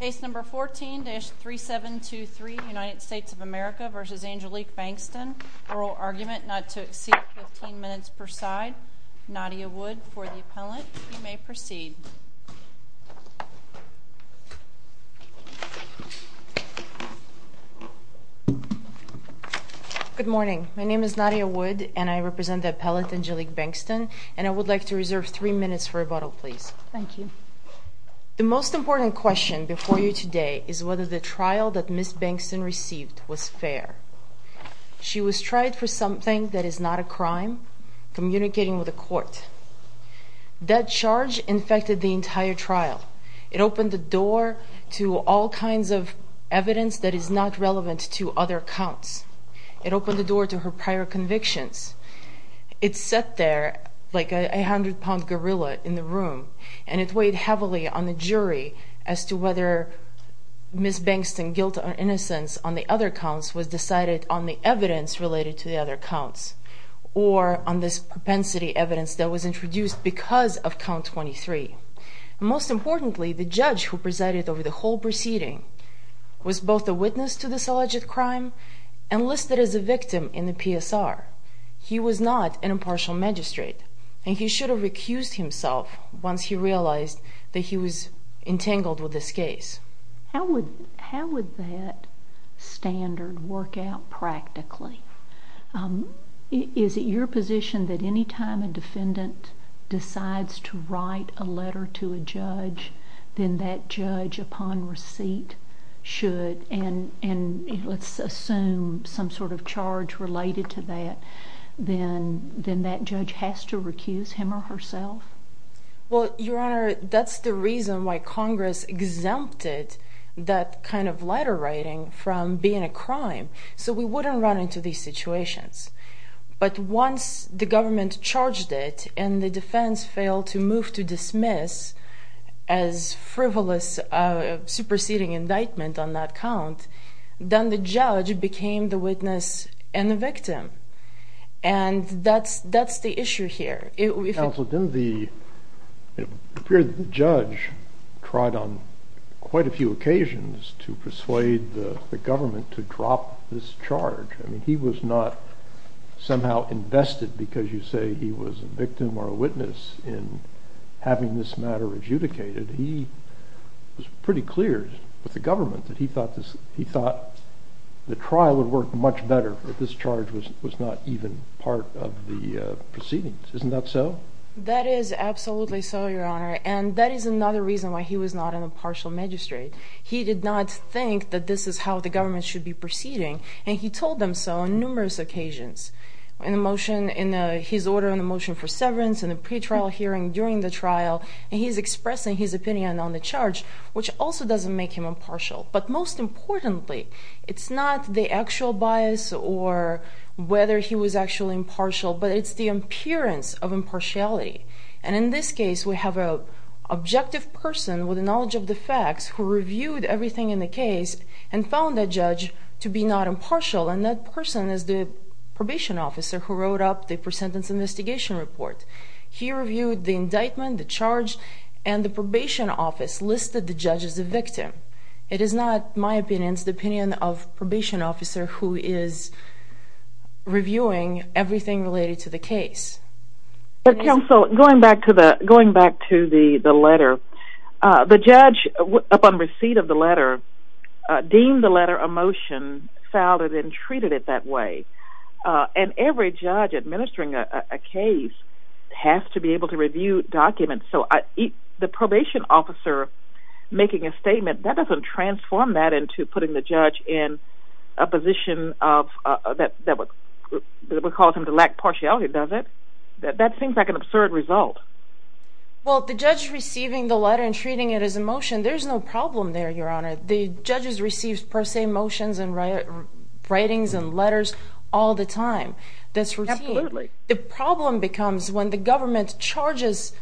Case number 14-3723, United States of America v. Angelique Bankston. Oral argument not to exceed 15 minutes per side. Nadia Wood for the appellant. You may proceed. Good morning. My name is Nadia Wood, and I represent the appellant Angelique Bankston, and I would like to reserve three minutes for rebuttal, please. Thank you. The most important question before you today is whether the trial that Ms. Bankston received was fair. She was tried for something that is not a crime, communicating with a court. That charge infected the entire trial. It opened the door to all kinds of evidence that is not relevant to other counts. It opened the door to her prior convictions. It sat there like a hundred-pound gorilla in the room, and it weighed heavily on the jury as to whether Ms. Bankston's guilt or innocence on the other counts was decided on the evidence related to the other counts, or on this propensity evidence that was introduced because of count 23. Most importantly, the judge who presided over the whole proceeding was both a witness to this alleged crime and listed as a victim in the PSR. He was not an impartial magistrate, and he should have recused himself once he realized that he was entangled with this case. How would that standard work out practically? Is it your position that any time a defendant decides to write a letter to a judge, then that judge, upon receipt, should, and let's assume some sort of charge related to that, then that judge has to recuse him or herself? Well, Your Honor, that's the reason why Congress exempted that kind of letter writing from being a crime, so we wouldn't run into these situations. But once the government charged it and the defense failed to move to dismiss as frivolous a superseding indictment on that count, then the judge became the witness and the victim. And that's the issue here. Counsel, didn't the judge try on quite a few occasions to persuade the government to drop this charge? I mean, he was not somehow invested because you say he was a victim or a witness in having this matter adjudicated. He was pretty clear with the government that he thought the trial would work much better if this charge was not even part of the proceedings. Isn't that so? That is absolutely so, Your Honor, and that is another reason why he was not an impartial magistrate. He did not think that this is how the government should be proceeding, and he told them so on numerous occasions in his order on the motion for severance and the pretrial hearing during the trial. And he's expressing his opinion on the charge, which also doesn't make him impartial. But most importantly, it's not the actual bias or whether he was actually impartial, but it's the appearance of impartiality. And in this case, we have an objective person with the knowledge of the facts who reviewed everything in the case and found the judge to be not impartial, and that person is the probation officer who wrote up the pre-sentence investigation report. He reviewed the indictment, the charge, and the probation office listed the judge as a victim. It is not, in my opinion, the opinion of the probation officer who is reviewing everything related to the case. Counsel, going back to the letter, the judge, upon receipt of the letter, deemed the letter a motion, filed it, and treated it that way. And every judge administering a case has to be able to review documents. So the probation officer making a statement, that doesn't transform that into putting the judge in a position that would cause him to lack partiality, does it? That seems like an absurd result. Well, the judge receiving the letter and treating it as a motion, there's no problem there, Your Honor. The judges receive per se motions and writings and letters all the time. That's routine. Absolutely. The problem becomes when the government charges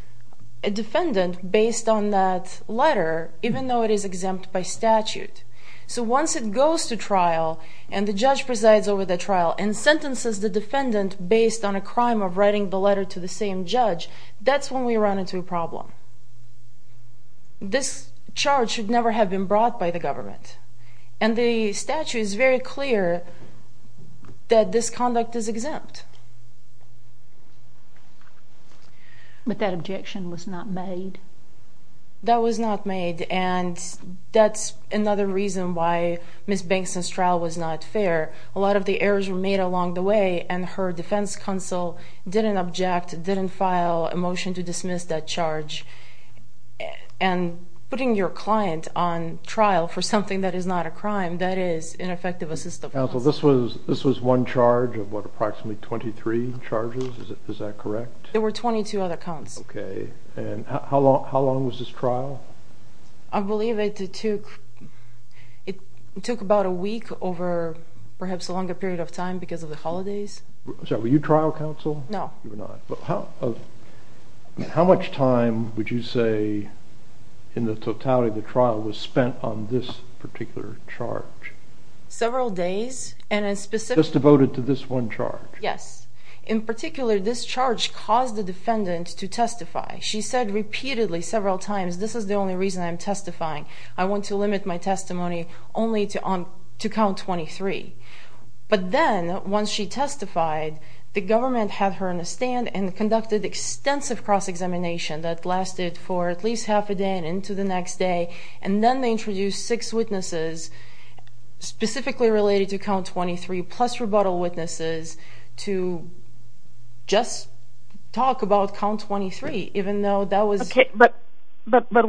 a defendant based on that letter, even though it is exempt by statute. So once it goes to trial and the judge presides over the trial and sentences the defendant based on a crime of writing the letter to the same judge, that's when we run into a problem. This charge should never have been brought by the government. And the statute is very clear that this conduct is exempt. But that objection was not made? That was not made. And that's another reason why Ms. Bankston's trial was not fair. A lot of the errors were made along the way, and her defense counsel didn't object, didn't file a motion to dismiss that charge. And putting your client on trial for something that is not a crime, that is ineffective assistance. Counsel, this was one charge of what, approximately 23 charges? Is that correct? There were 22 other counts. Okay. And how long was this trial? I believe it took about a week over perhaps a longer period of time because of the holidays. Were you trial counsel? No. You were not. How much time would you say in the totality of the trial was spent on this particular charge? Several days. Just devoted to this one charge? Yes. In particular, this charge caused the defendant to testify. She said repeatedly, several times, this is the only reason I'm testifying. I want to limit my testimony only to count 23. But then, once she testified, the government had her on a stand and conducted extensive cross-examination that lasted for at least half a day and into the next day. And then they introduced six witnesses, specifically related to count 23, plus rebuttal witnesses, to just talk about count 23, even though that was... But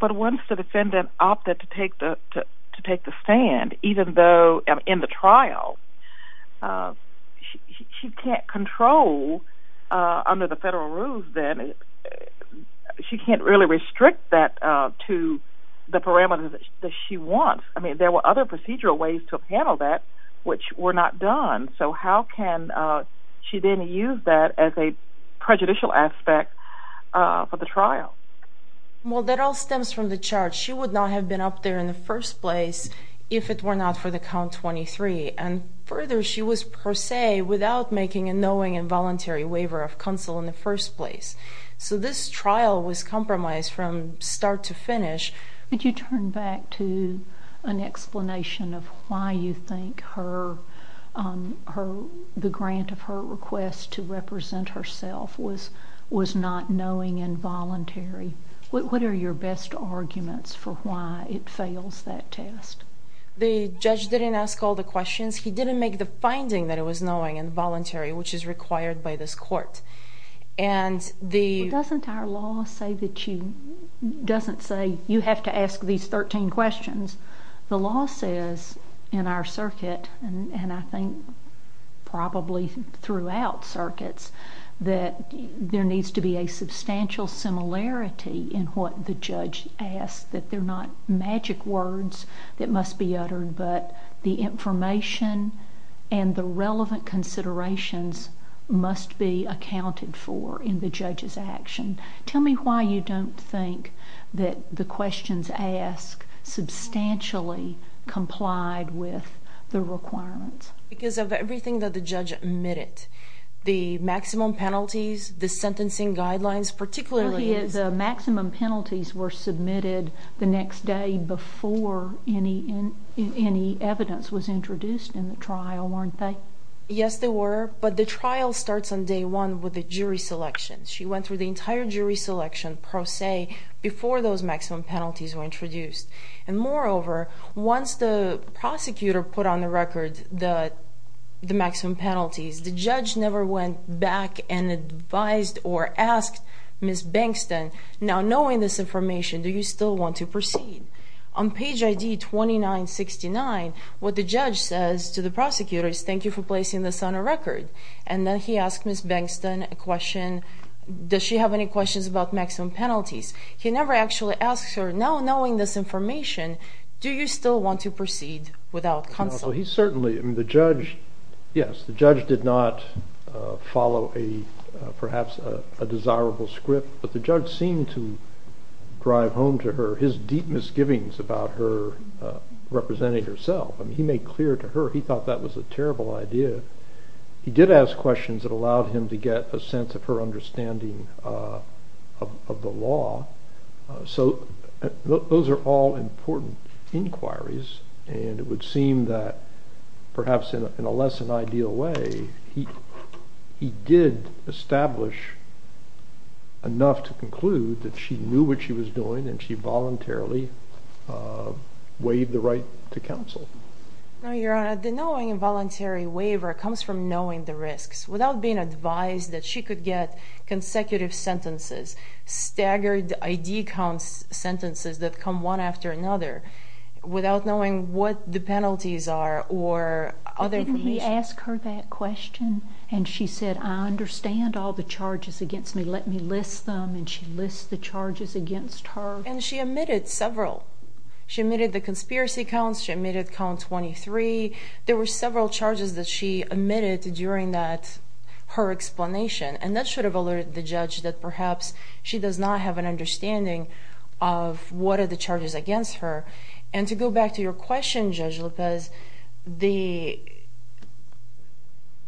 once the defendant opted to take the stand, even though in the trial, she can't control under the federal rules then. She can't really restrict that to the parameters that she wants. I mean, there were other procedural ways to handle that which were not done. So how can she then use that as a prejudicial aspect for the trial? Well, that all stems from the charge. She would not have been up there in the first place if it were not for the count 23. And further, she was per se without making a knowing and voluntary waiver of counsel in the first place. So this trial was compromised from start to finish. Could you turn back to an explanation of why you think the grant of her request to represent herself was not knowing and voluntary? What are your best arguments for why it fails that test? The judge didn't ask all the questions. He didn't make the finding that it was knowing and voluntary, which is required by this court. Doesn't our law say that you have to ask these 13 questions? The law says in our circuit, and I think probably throughout circuits, that there needs to be a substantial similarity in what the judge asks, that they're not magic words that must be uttered, but the information and the relevant considerations must be accounted for in the judge's action. Tell me why you don't think that the questions asked substantially complied with the requirements. Because of everything that the judge admitted, the maximum penalties, the sentencing guidelines, particularly. The maximum penalties were submitted the next day before any evidence was introduced in the trial, weren't they? Yes, they were, but the trial starts on day one with the jury selection. She went through the entire jury selection, per se, before those maximum penalties were introduced. And moreover, once the prosecutor put on the record the maximum penalties, the judge never went back and advised or asked Ms. Bengston, now knowing this information, do you still want to proceed? On page ID 2969, what the judge says to the prosecutor is, thank you for placing this on a record. And then he asks Ms. Bengston a question, does she have any questions about maximum penalties? He never actually asks her, now knowing this information, do you still want to proceed without counsel? He certainly, the judge, yes, the judge did not follow perhaps a desirable script, but the judge seemed to drive home to her his deep misgivings about her representing herself. He made clear to her he thought that was a terrible idea. He did ask questions that allowed him to get a sense of her understanding of the law. So those are all important inquiries, and it would seem that perhaps in a less than ideal way, he did establish enough to conclude that she knew what she was doing and she voluntarily waived the right to counsel. Your Honor, the knowing involuntary waiver comes from knowing the risks. Without being advised that she could get consecutive sentences, staggered ID count sentences that come one after another, without knowing what the penalties are or other information. But didn't he ask her that question? And she said, I understand all the charges against me, let me list them, and she lists the charges against her. And she omitted several. She omitted the conspiracy counts, she omitted count 23. There were several charges that she omitted during her explanation, and that should have alerted the judge that perhaps she does not have an understanding of what are the charges against her. And to go back to your question, Judge Lopez,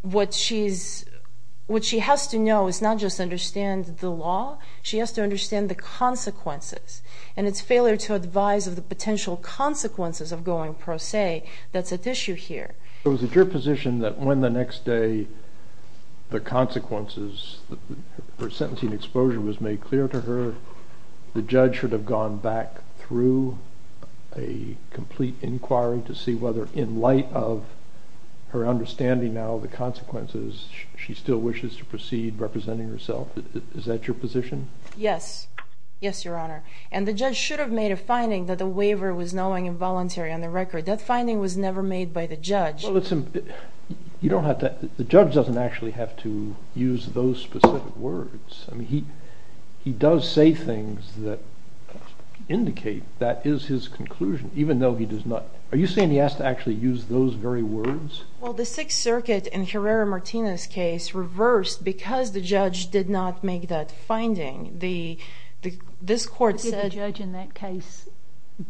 what she has to know is not just understand the law, she has to understand the consequences. And it's failure to advise of the potential consequences of going pro se that's at issue here. So is it your position that when the next day the consequences, her sentencing exposure was made clear to her, the judge should have gone back through a complete inquiry to see whether in light of her understanding now of the consequences, she still wishes to proceed representing herself? Is that your position? Yes. Yes, Your Honor. And the judge should have made a finding that the waiver was knowing involuntary on the record. That finding was never made by the judge. Well, the judge doesn't actually have to use those specific words. I mean, he does say things that indicate that is his conclusion, even though he does not. Are you saying he has to actually use those very words? Well, the Sixth Circuit in Herrera-Martinez's case reversed because the judge did not make that finding. This court said the judge in that case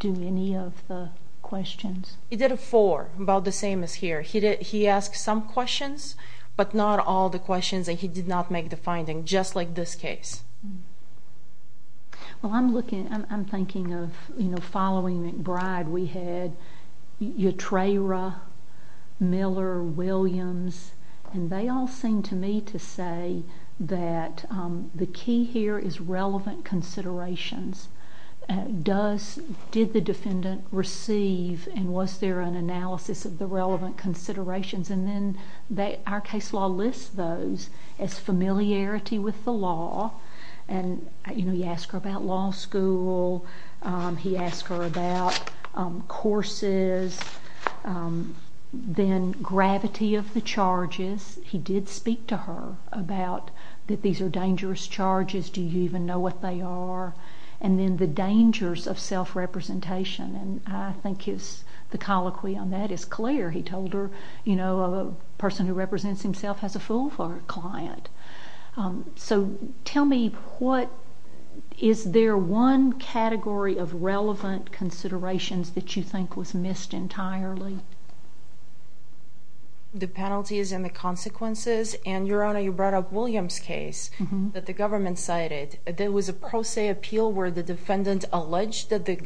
do any of the questions. He did a four, about the same as here. He asked some questions, but not all the questions, and he did not make the finding, just like this case. Well, I'm looking, I'm thinking of, you know, following McBride, we had Utrera, Miller, Williams, and they all seem to me to say that the key here is relevant considerations. Does, did the defendant receive and was there an analysis of the relevant considerations? And then our case law lists those as familiarity with the law. And, you know, you ask her about law school. He asked her about courses, then gravity of the charges. He did speak to her about that these are dangerous charges. Do you even know what they are? And then the dangers of self-representation, and I think the colloquy on that is clear. He told her, you know, a person who represents himself has a fool for a client. So tell me what, is there one category of relevant considerations that you think was missed entirely? The penalties and the consequences, and, Your Honor, you brought up Williams' case that the government cited. There was a pro se appeal where the defendant alleged that the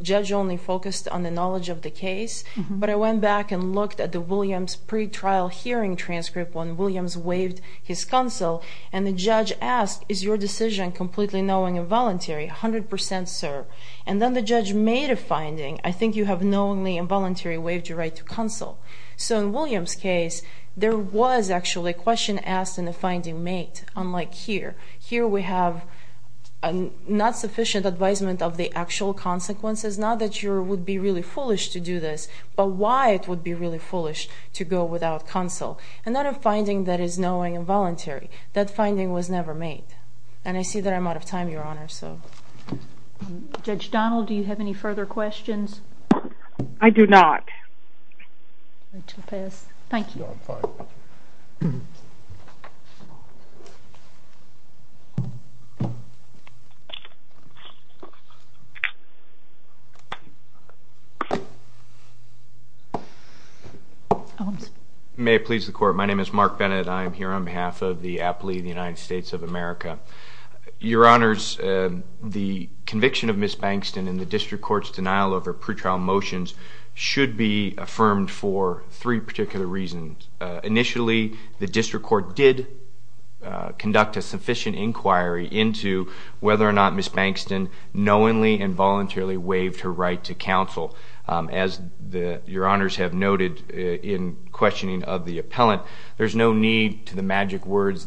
judge only focused on the knowledge of the case, but I went back and looked at the Williams pretrial hearing transcript when Williams waived his counsel, and the judge asked, is your decision completely knowing and voluntary? A hundred percent, sir. And then the judge made a finding. I think you have knowingly and voluntarily waived your right to counsel. So in Williams' case, there was actually a question asked and a finding made, unlike here. Here we have not sufficient advisement of the actual consequences, not that you would be really foolish to do this, but why it would be really foolish to go without counsel. And not a finding that is knowing and voluntary. That finding was never made. And I see that I'm out of time, Your Honor, so. Judge Donnell, do you have any further questions? I do not. I shall pass. Thank you. May it please the Court. My name is Mark Bennett. I am here on behalf of the aptly of the United States of America. Your Honors, the conviction of Ms. Bankston in the district court's denial over pretrial motions should be affirmed for three particular reasons. Initially, the district court did conduct a sufficient inquiry into whether or not Ms. Bankston knowingly and voluntarily waived her right to counsel. As Your Honors have noted in questioning of the appellant, there's no need to the magic words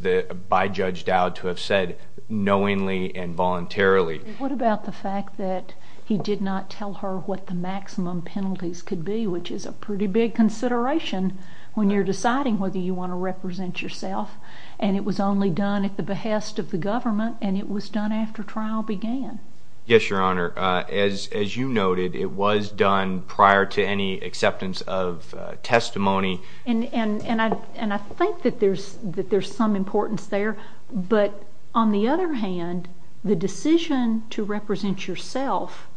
by Judge Dowd to have said knowingly and voluntarily. What about the fact that he did not tell her what the maximum penalties could be, which is a pretty big consideration when you're deciding whether you want to represent yourself. And it was only done at the behest of the government, and it was done after trial began. Yes, Your Honor. As you noted, it was done prior to any acceptance of testimony. And I think that there's some importance there. But on the other hand, the decision to represent yourself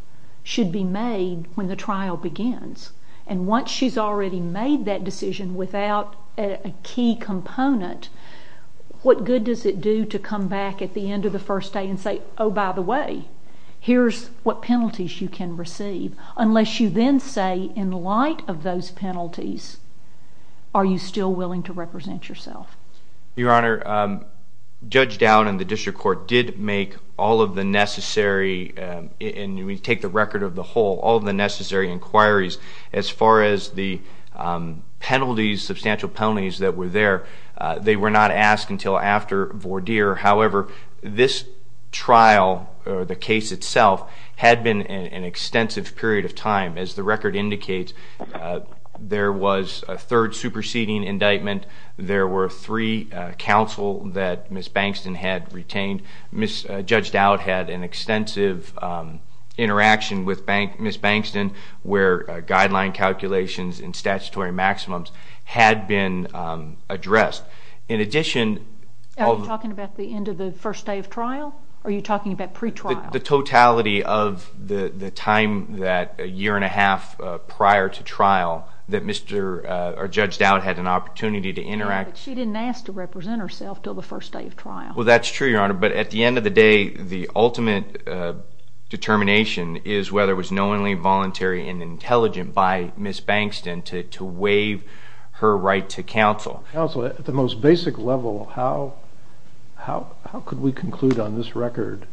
should be made when the trial begins. And once she's already made that decision without a key component, what good does it do to come back at the end of the first day and say, oh, by the way, here's what penalties you can receive, unless you then say in light of those penalties, are you still willing to represent yourself? Your Honor, Judge Dowd and the district court did make all of the necessary, and we take the record of the whole, all of the necessary inquiries as far as the penalties, substantial penalties that were there. They were not asked until after Vordeer. However, this trial, or the case itself, had been an extensive period of time. As the record indicates, there was a third superseding indictment. There were three counsel that Ms. Bankston had retained. Judge Dowd had an extensive interaction with Ms. Bankston, where guideline calculations and statutory maximums had been addressed. Are you talking about the end of the first day of trial, or are you talking about pre-trial? The totality of the time that a year and a half prior to trial that Judge Dowd had an opportunity to interact. But she didn't ask to represent herself until the first day of trial. Well, that's true, Your Honor. But at the end of the day, the ultimate determination is whether it was knowingly, voluntary, and intelligent by Ms. Bankston to waive her right to counsel. Counsel, at the most basic level, how could we conclude on this record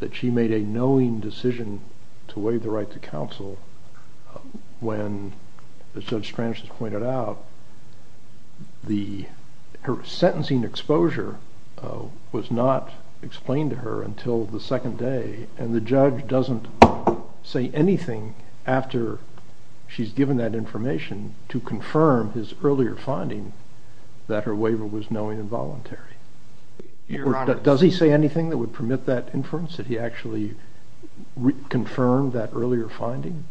that she made a knowing decision to waive the right to counsel when, as Judge Stransch has pointed out, her sentencing exposure was not explained to her until the second day, and the judge doesn't say anything after she's given that information to confirm his earlier finding that her waiver was knowingly involuntary? Does he say anything that would permit that inference, that he actually confirmed that earlier finding?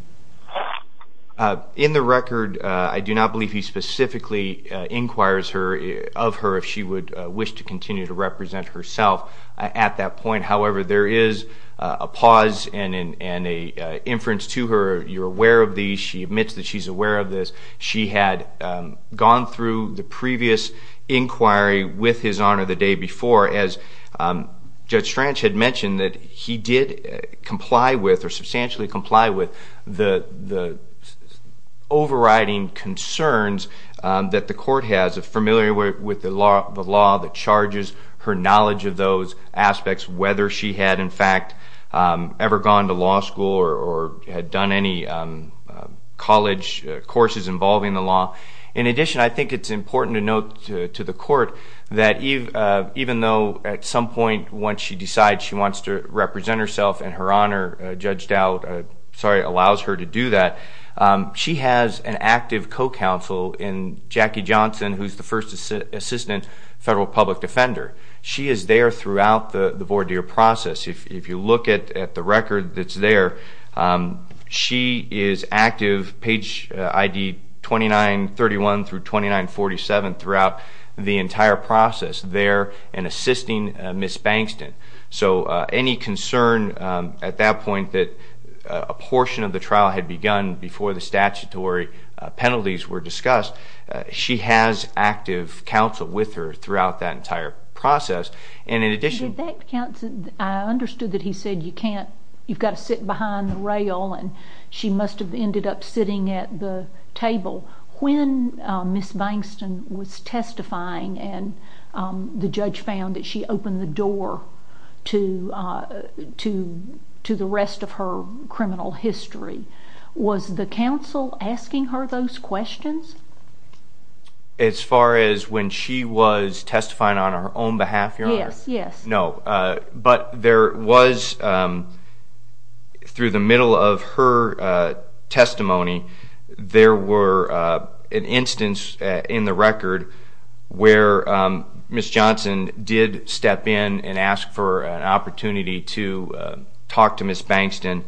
In the record, I do not believe he specifically inquires of her if she would wish to continue to represent herself at that point. However, there is a pause and an inference to her. You're aware of these. She admits that she's aware of this. She had gone through the previous inquiry with His Honor the day before. As Judge Stransch had mentioned, he did comply with or substantially comply with the overriding concerns that the court has, a familiarity with the law that charges her knowledge of those aspects, whether she had, in fact, ever gone to law school or had done any college courses involving the law. In addition, I think it's important to note to the court that even though at some point, once she decides she wants to represent herself and Her Honor allows her to do that, she has an active co-counsel in Jackie Johnson, who's the first assistant federal public defender. She is there throughout the voir dire process. If you look at the record that's there, she is active, page ID 2931 through 2947, throughout the entire process there and assisting Ms. Bankston. Any concern at that point that a portion of the trial had begun before the statutory penalties were discussed, she has active counsel with her throughout that entire process. In addition- I understood that he said you've got to sit behind the rail and she must have ended up sitting at the table. When Ms. Bankston was testifying and the judge found that she opened the door to the rest of her criminal history, was the counsel asking her those questions? As far as when she was testifying on her own behalf, Your Honor? Yes, yes. No, but there was, through the middle of her testimony, there were an instance in the record where Ms. Johnson did step in and ask for an opportunity to talk to Ms. Bankston,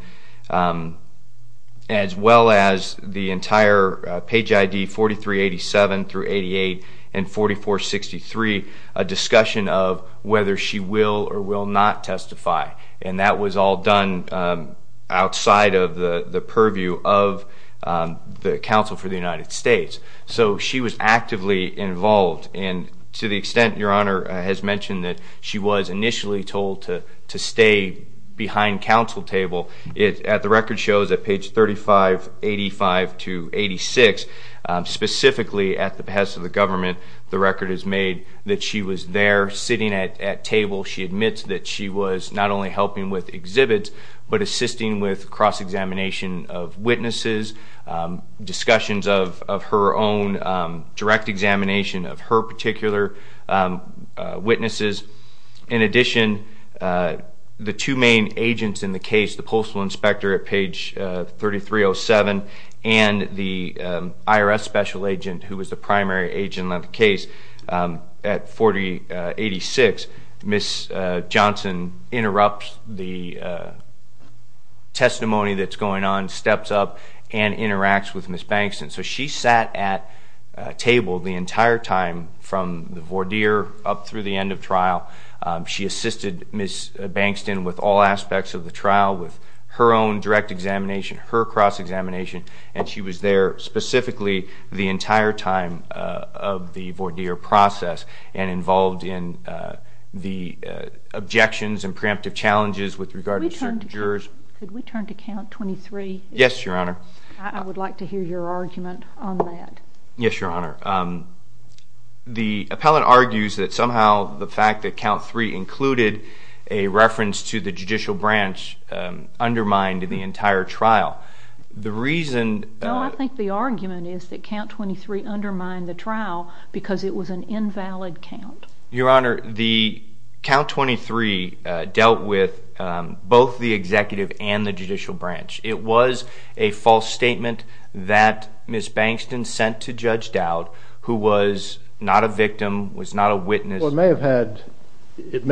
as well as the entire page ID 4387 through 884463, a discussion of whether she will or will not testify. And that was all done outside of the purview of the counsel for the United States. So she was actively involved, and to the extent, Your Honor, has mentioned that she was initially told to stay behind counsel table. The record shows that page 3585 to 86, specifically at the behest of the government, the record is made that she was there sitting at table. She admits that she was not only helping with exhibits, but assisting with cross-examination of witnesses, discussions of her own, direct examination of her particular witnesses. In addition, the two main agents in the case, the postal inspector at page 3307 and the IRS special agent who was the primary agent on the case at 4086, Ms. Johnson interrupts the testimony that's going on, steps up, and interacts with Ms. Bankston. So she sat at table the entire time from the voir dire up through the end of trial. She assisted Ms. Bankston with all aspects of the trial, with her own direct examination, her cross-examination, and she was there specifically the entire time of the voir dire process and involved in the objections and preemptive challenges with regard to certain jurors. Could we turn to count 23? Yes, Your Honor. I would like to hear your argument on that. Yes, Your Honor. The appellant argues that somehow the fact that count three included a reference to the judicial branch undermined the entire trial. No, I think the argument is that count 23 undermined the trial because it was an invalid count. Your Honor, the count 23 dealt with both the executive and the judicial branch. It was a false statement that Ms. Bankston sent to Judge Dowd, who was not a victim, was not a witness. Well, it may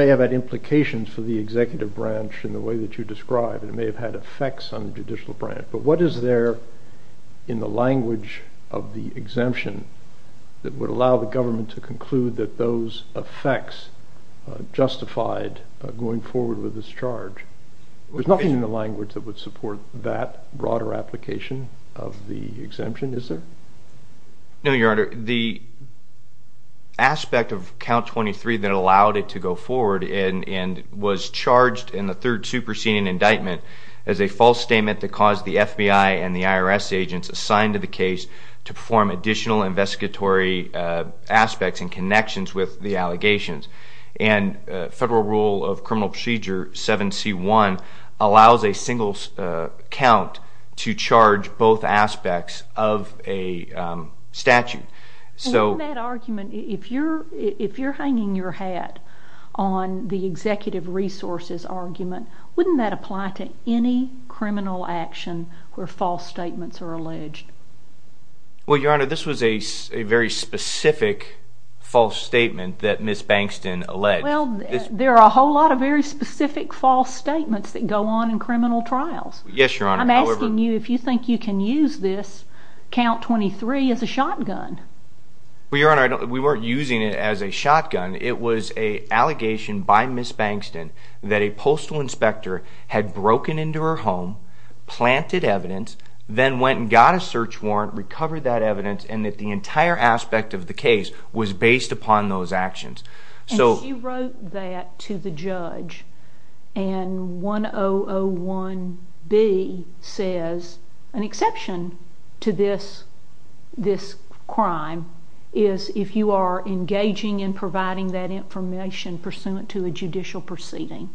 have had implications for the executive branch in the way that you described. It may have had effects on the judicial branch, but what is there in the language of the exemption that would allow the government to conclude that those effects justified going forward with this charge? There's nothing in the language that would support that broader application of the exemption, is there? No, Your Honor. The aspect of count 23 that allowed it to go forward and was charged in the third superseding indictment as a false statement that caused the FBI and the IRS agents assigned to the case to perform additional investigatory aspects and connections with the allegations. Federal Rule of Criminal Procedure 7C1 allows a single count to charge both aspects of a statute. In that argument, if you're hanging your hat on the executive resources argument, wouldn't that apply to any criminal action where false statements are alleged? Well, Your Honor, this was a very specific false statement that Ms. Bankston alleged. Well, there are a whole lot of very specific false statements that go on in criminal trials. Yes, Your Honor. I'm asking you if you think you can use this count 23 as a shotgun. Well, Your Honor, we weren't using it as a shotgun. It was an allegation by Ms. Bankston that a postal inspector had broken into her home, planted evidence, then went and got a search warrant, recovered that evidence, and that the entire aspect of the case was based upon those actions. And she wrote that to the judge and 1001B says an exception to this crime is if you are engaging in providing that information pursuant to a judicial proceeding.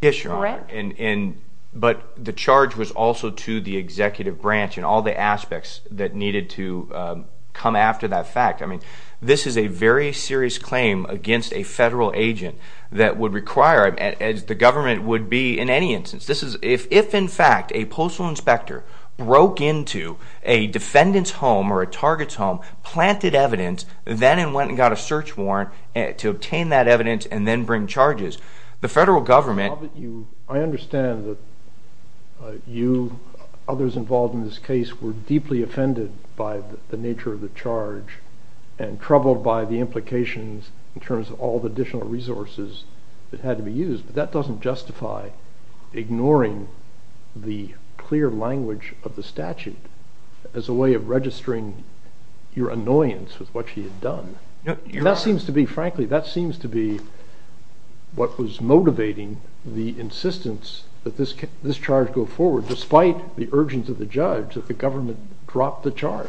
Yes, Your Honor. Correct? But the charge was also to the executive branch and all the aspects that needed to come after that fact. I mean, this is a very serious claim against a federal agent that would require, as the government would be in any instance. If, in fact, a postal inspector broke into a defendant's home or a target's home, planted evidence, then went and got a search warrant to obtain that evidence and then bring charges, the federal government... I understand that you, others involved in this case, were deeply offended by the nature of the charge and troubled by the implications in terms of all the additional resources that had to be used, but that doesn't justify ignoring the clear language of the statute as a way of registering your annoyance with what she had done. That seems to be, frankly, that seems to be what was motivating the insistence that this charge go forward despite the urgence of the judge that the government drop the charge.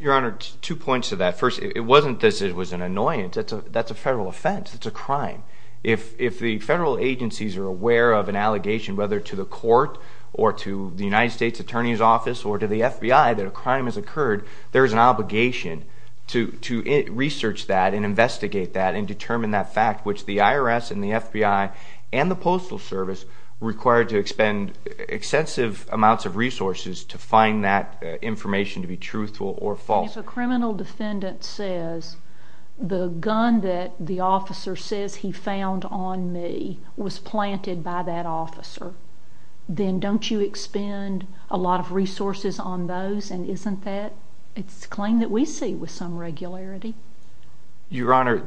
Your Honor, two points to that. First, it wasn't that it was an annoyance. That's a federal offense. It's a crime. If the federal agencies are aware of an allegation, whether to the court or to the United States Attorney's Office or to the FBI that a crime has occurred, there's an obligation to research that and investigate that and determine that fact, which the IRS and the FBI and the Postal Service were required to expend extensive amounts of resources to find that information to be truthful or false. If a criminal defendant says the gun that the officer says he found on me was planted by that officer, then don't you expend a lot of resources on those? And isn't that a claim that we see with some regularity? Your Honor,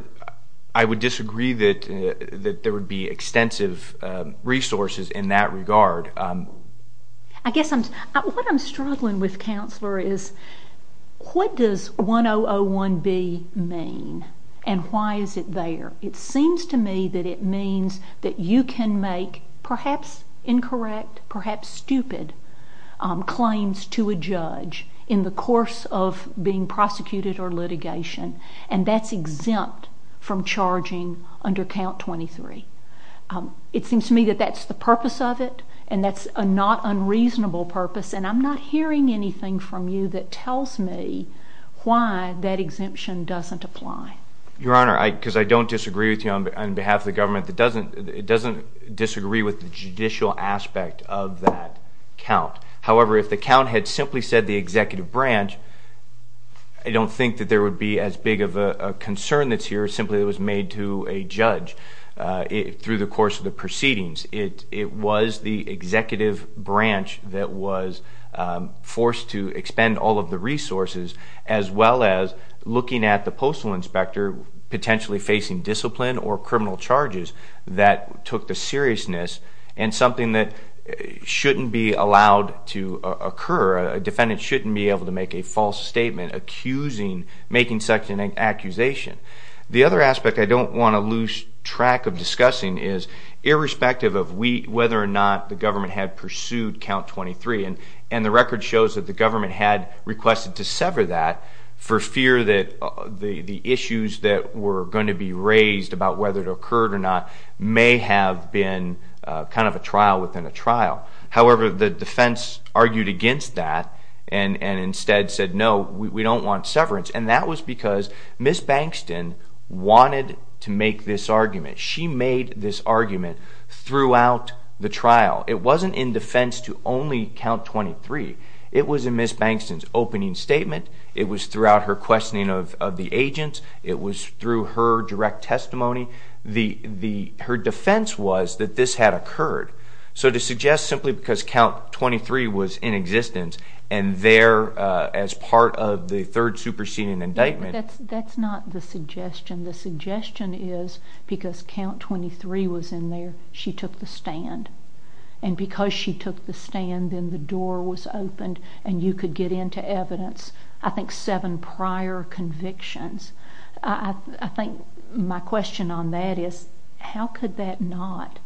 I would disagree that there would be extensive resources in that regard. I guess what I'm struggling with, Counselor, is what does 1001B mean and why is it there? It seems to me that it means that you can make perhaps incorrect, perhaps stupid claims to a judge in the course of being prosecuted or litigation, and that's exempt from charging under Count 23. It seems to me that that's the purpose of it, and that's a not unreasonable purpose, and I'm not hearing anything from you that tells me why that exemption doesn't apply. Your Honor, because I don't disagree with you on behalf of the government, it doesn't disagree with the judicial aspect of that count. However, if the count had simply said the executive branch, I don't think that there would be as big of a concern that's here simply that it was made to a judge through the course of the proceedings. It was the executive branch that was forced to expend all of the resources as well as looking at the postal inspector potentially facing discipline or criminal charges that took the seriousness and something that shouldn't be allowed to occur. A defendant shouldn't be able to make a false statement accusing making such an accusation. The other aspect I don't want to lose track of discussing is, irrespective of whether or not the government had pursued Count 23, and the record shows that the government had requested to sever that for fear that the issues that were going to be raised about whether it occurred or not may have been kind of a trial within a trial. However, the defense argued against that and instead said, no, we don't want severance, and that was because Ms. Bankston wanted to make this argument. She made this argument throughout the trial. It wasn't in defense to only Count 23. It was in Ms. Bankston's opening statement. It was throughout her questioning of the agents. It was through her direct testimony. Her defense was that this had occurred, so to suggest simply because Count 23 was in existence and there as part of the third superseding indictment. That's not the suggestion. The suggestion is because Count 23 was in there, she took the stand, and because she took the stand, then the door was opened and you could get into evidence, I think, seven prior convictions. I think my question on that is how could that not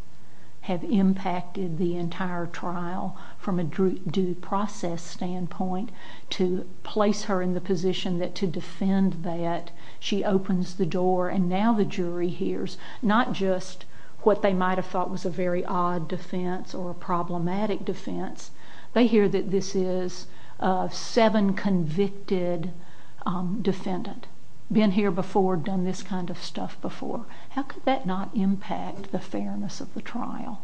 have impacted the entire trial from a due process standpoint to place her in the position that to defend that, she opens the door and now the jury hears not just what they might have thought was a very odd defense or a problematic defense. They hear that this is seven convicted defendant, been here before, done this kind of stuff before. How could that not impact the fairness of the trial?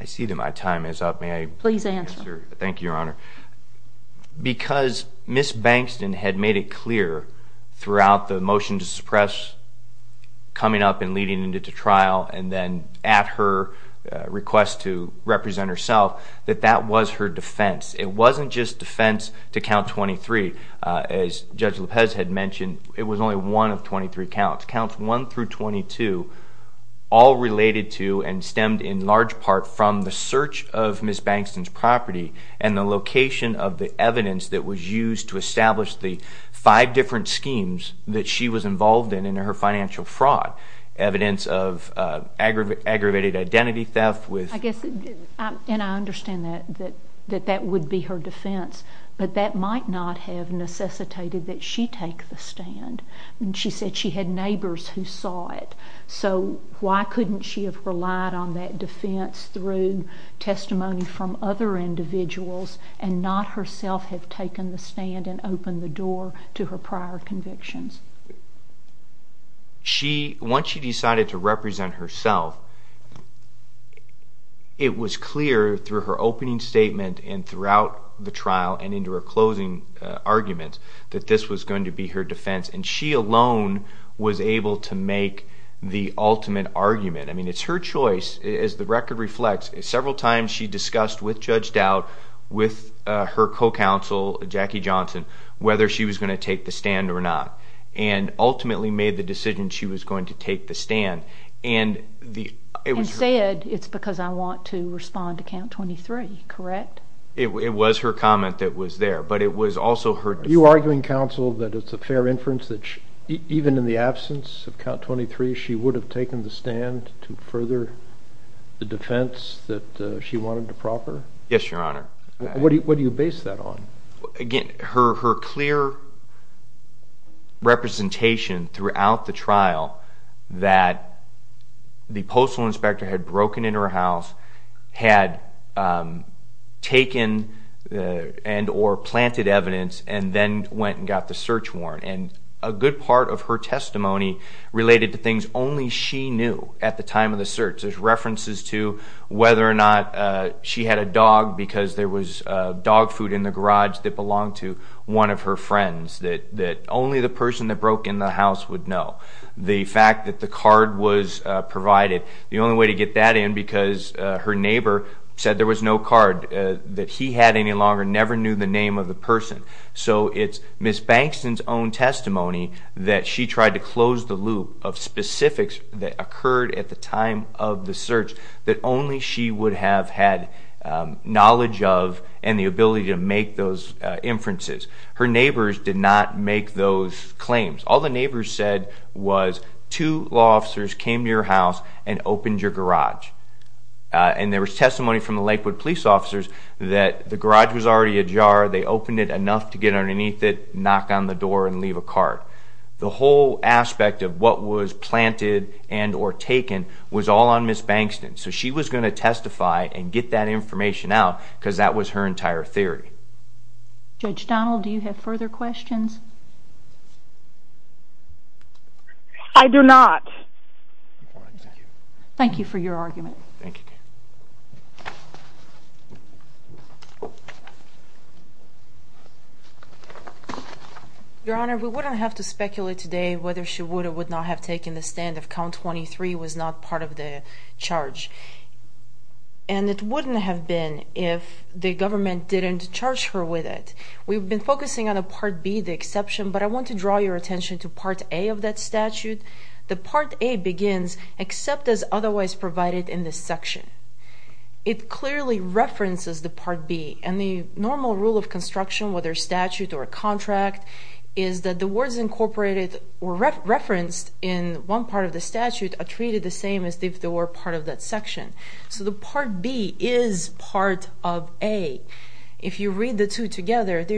I see that my time is up. Please answer. Thank you, Your Honor. Because Ms. Bankston had made it clear throughout the motion to suppress coming up and leading into trial and then at her request to represent herself that that was her defense. It wasn't just defense to Count 23. As Judge Lopez had mentioned, it was only one of 23 counts. Counts 1 through 22 all related to and stemmed in large part from the search of Ms. Bankston's property and the location of the evidence that was used to establish the five different schemes that she was involved in in her financial fraud, evidence of aggravated identity theft. I guess, and I understand that that would be her defense, but that might not have necessitated that she take the stand. She said she had neighbors who saw it. So why couldn't she have relied on that defense through testimony from other individuals and not herself have taken the stand and opened the door to her prior convictions? Once she decided to represent herself, it was clear through her opening statement and throughout the trial and into her closing arguments that this was going to be her defense, and she alone was able to make the ultimate argument. I mean, it's her choice. As the record reflects, several times she discussed with Judge Dowd, with her co-counsel Jackie Johnson, whether she was going to take the stand or not and ultimately made the decision she was going to take the stand. Instead, it's because I want to respond to Count 23, correct? It was her comment that was there, but it was also her defense. Are you arguing, counsel, that it's a fair inference that even in the absence of Count 23 she would have taken the stand to further the defense that she wanted to proper? Yes, Your Honor. What do you base that on? Again, her clear representation throughout the trial that the postal inspector had broken into her house, had taken and or planted evidence, and then went and got the search warrant. And a good part of her testimony related to things only she knew at the time of the search. There's references to whether or not she had a dog because there was dog food in the garage that belonged to one of her friends that only the person that broke in the house would know. The fact that the card was provided. The only way to get that in because her neighbor said there was no card that he had any longer, never knew the name of the person. So it's Ms. Bankston's own testimony that she tried to close the loop of specifics that occurred at the time of the search that only she would have had knowledge of and the ability to make those inferences. Her neighbors did not make those claims. All the neighbors said was two law officers came to your house and opened your garage. And there was testimony from the Lakewood police officers that the garage was already ajar. They opened it enough to get underneath it, knock on the door, and leave a card. The whole aspect of what was planted and or taken was all on Ms. Bankston. So she was going to testify and get that information out because that was her entire theory. Judge Donald, do you have further questions? I do not. Thank you for your argument. Your Honor, we wouldn't have to speculate today whether she would or would not have taken the stand if count 23 was not part of the charge. And it wouldn't have been if the government didn't charge her with it. We've been focusing on a Part B, the exception, but I want to draw your attention to Part A of that statute. The Part A begins, except as otherwise provided in this section. It clearly references the Part B. And the normal rule of construction, whether statute or contract, is that the words incorporated or referenced in one part of the statute are treated the same as if they were part of that section. So the Part B is part of A. If you read the two together, the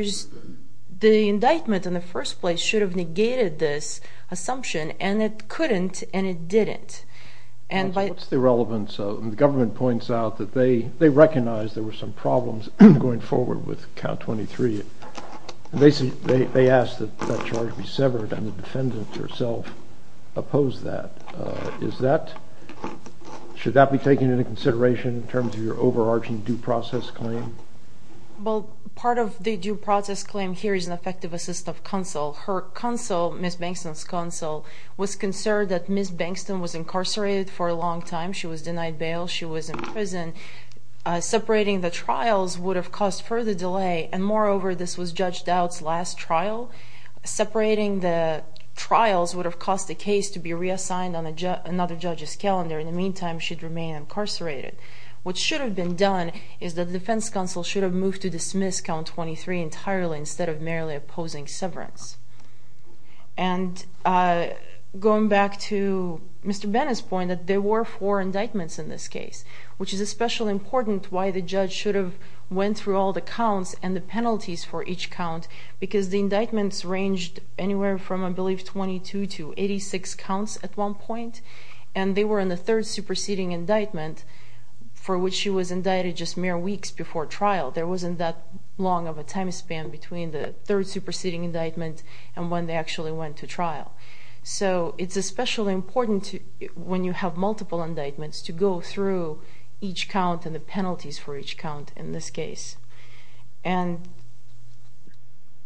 indictment in the first place should have negated this assumption, and it couldn't, and it didn't. What's the relevance of it? The government points out that they recognize there were some problems going forward with count 23. They ask that that charge be severed, and the defendant herself opposed that. Should that be taken into consideration in terms of your overarching due process claim? Well, part of the due process claim here is an effective assist of counsel. Her counsel, Ms. Bankston's counsel, was concerned that Ms. Bankston was incarcerated for a long time. She was in prison. Separating the trials would have caused further delay, and moreover, this was Judge Dowd's last trial. Separating the trials would have caused the case to be reassigned on another judge's calendar. In the meantime, she'd remain incarcerated. What should have been done is that the defense counsel should have moved to dismiss count 23 entirely instead of merely opposing severance. And going back to Mr. Bennett's point, that there were four indictments in this case, which is especially important why the judge should have went through all the counts and the penalties for each count because the indictments ranged anywhere from, I believe, 22 to 86 counts at one point, and they were in the third superseding indictment for which she was indicted just mere weeks before trial. There wasn't that long of a time span between the third superseding indictment and when they actually went to trial. So it's especially important when you have multiple indictments to go through each count and the penalties for each count in this case. And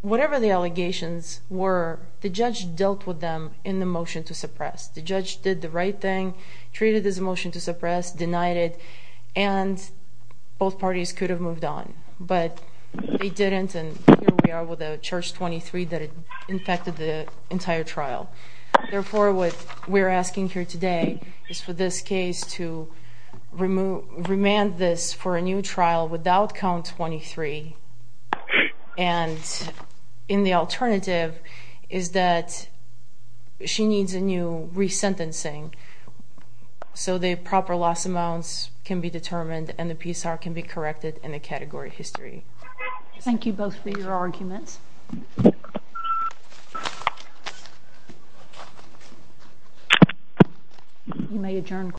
whatever the allegations were, the judge dealt with them in the motion to suppress. The judge did the right thing, treated this motion to suppress, denied it, and both parties could have moved on. But they didn't, and here we are with a charge 23 that infected the entire trial. Therefore, what we're asking here today is for this case to remand this for a new trial without count 23. And in the alternative is that she needs a new resentencing, so the proper loss amounts can be determined and the PSAR can be corrected in the category history. Thank you both for your arguments. You may adjourn.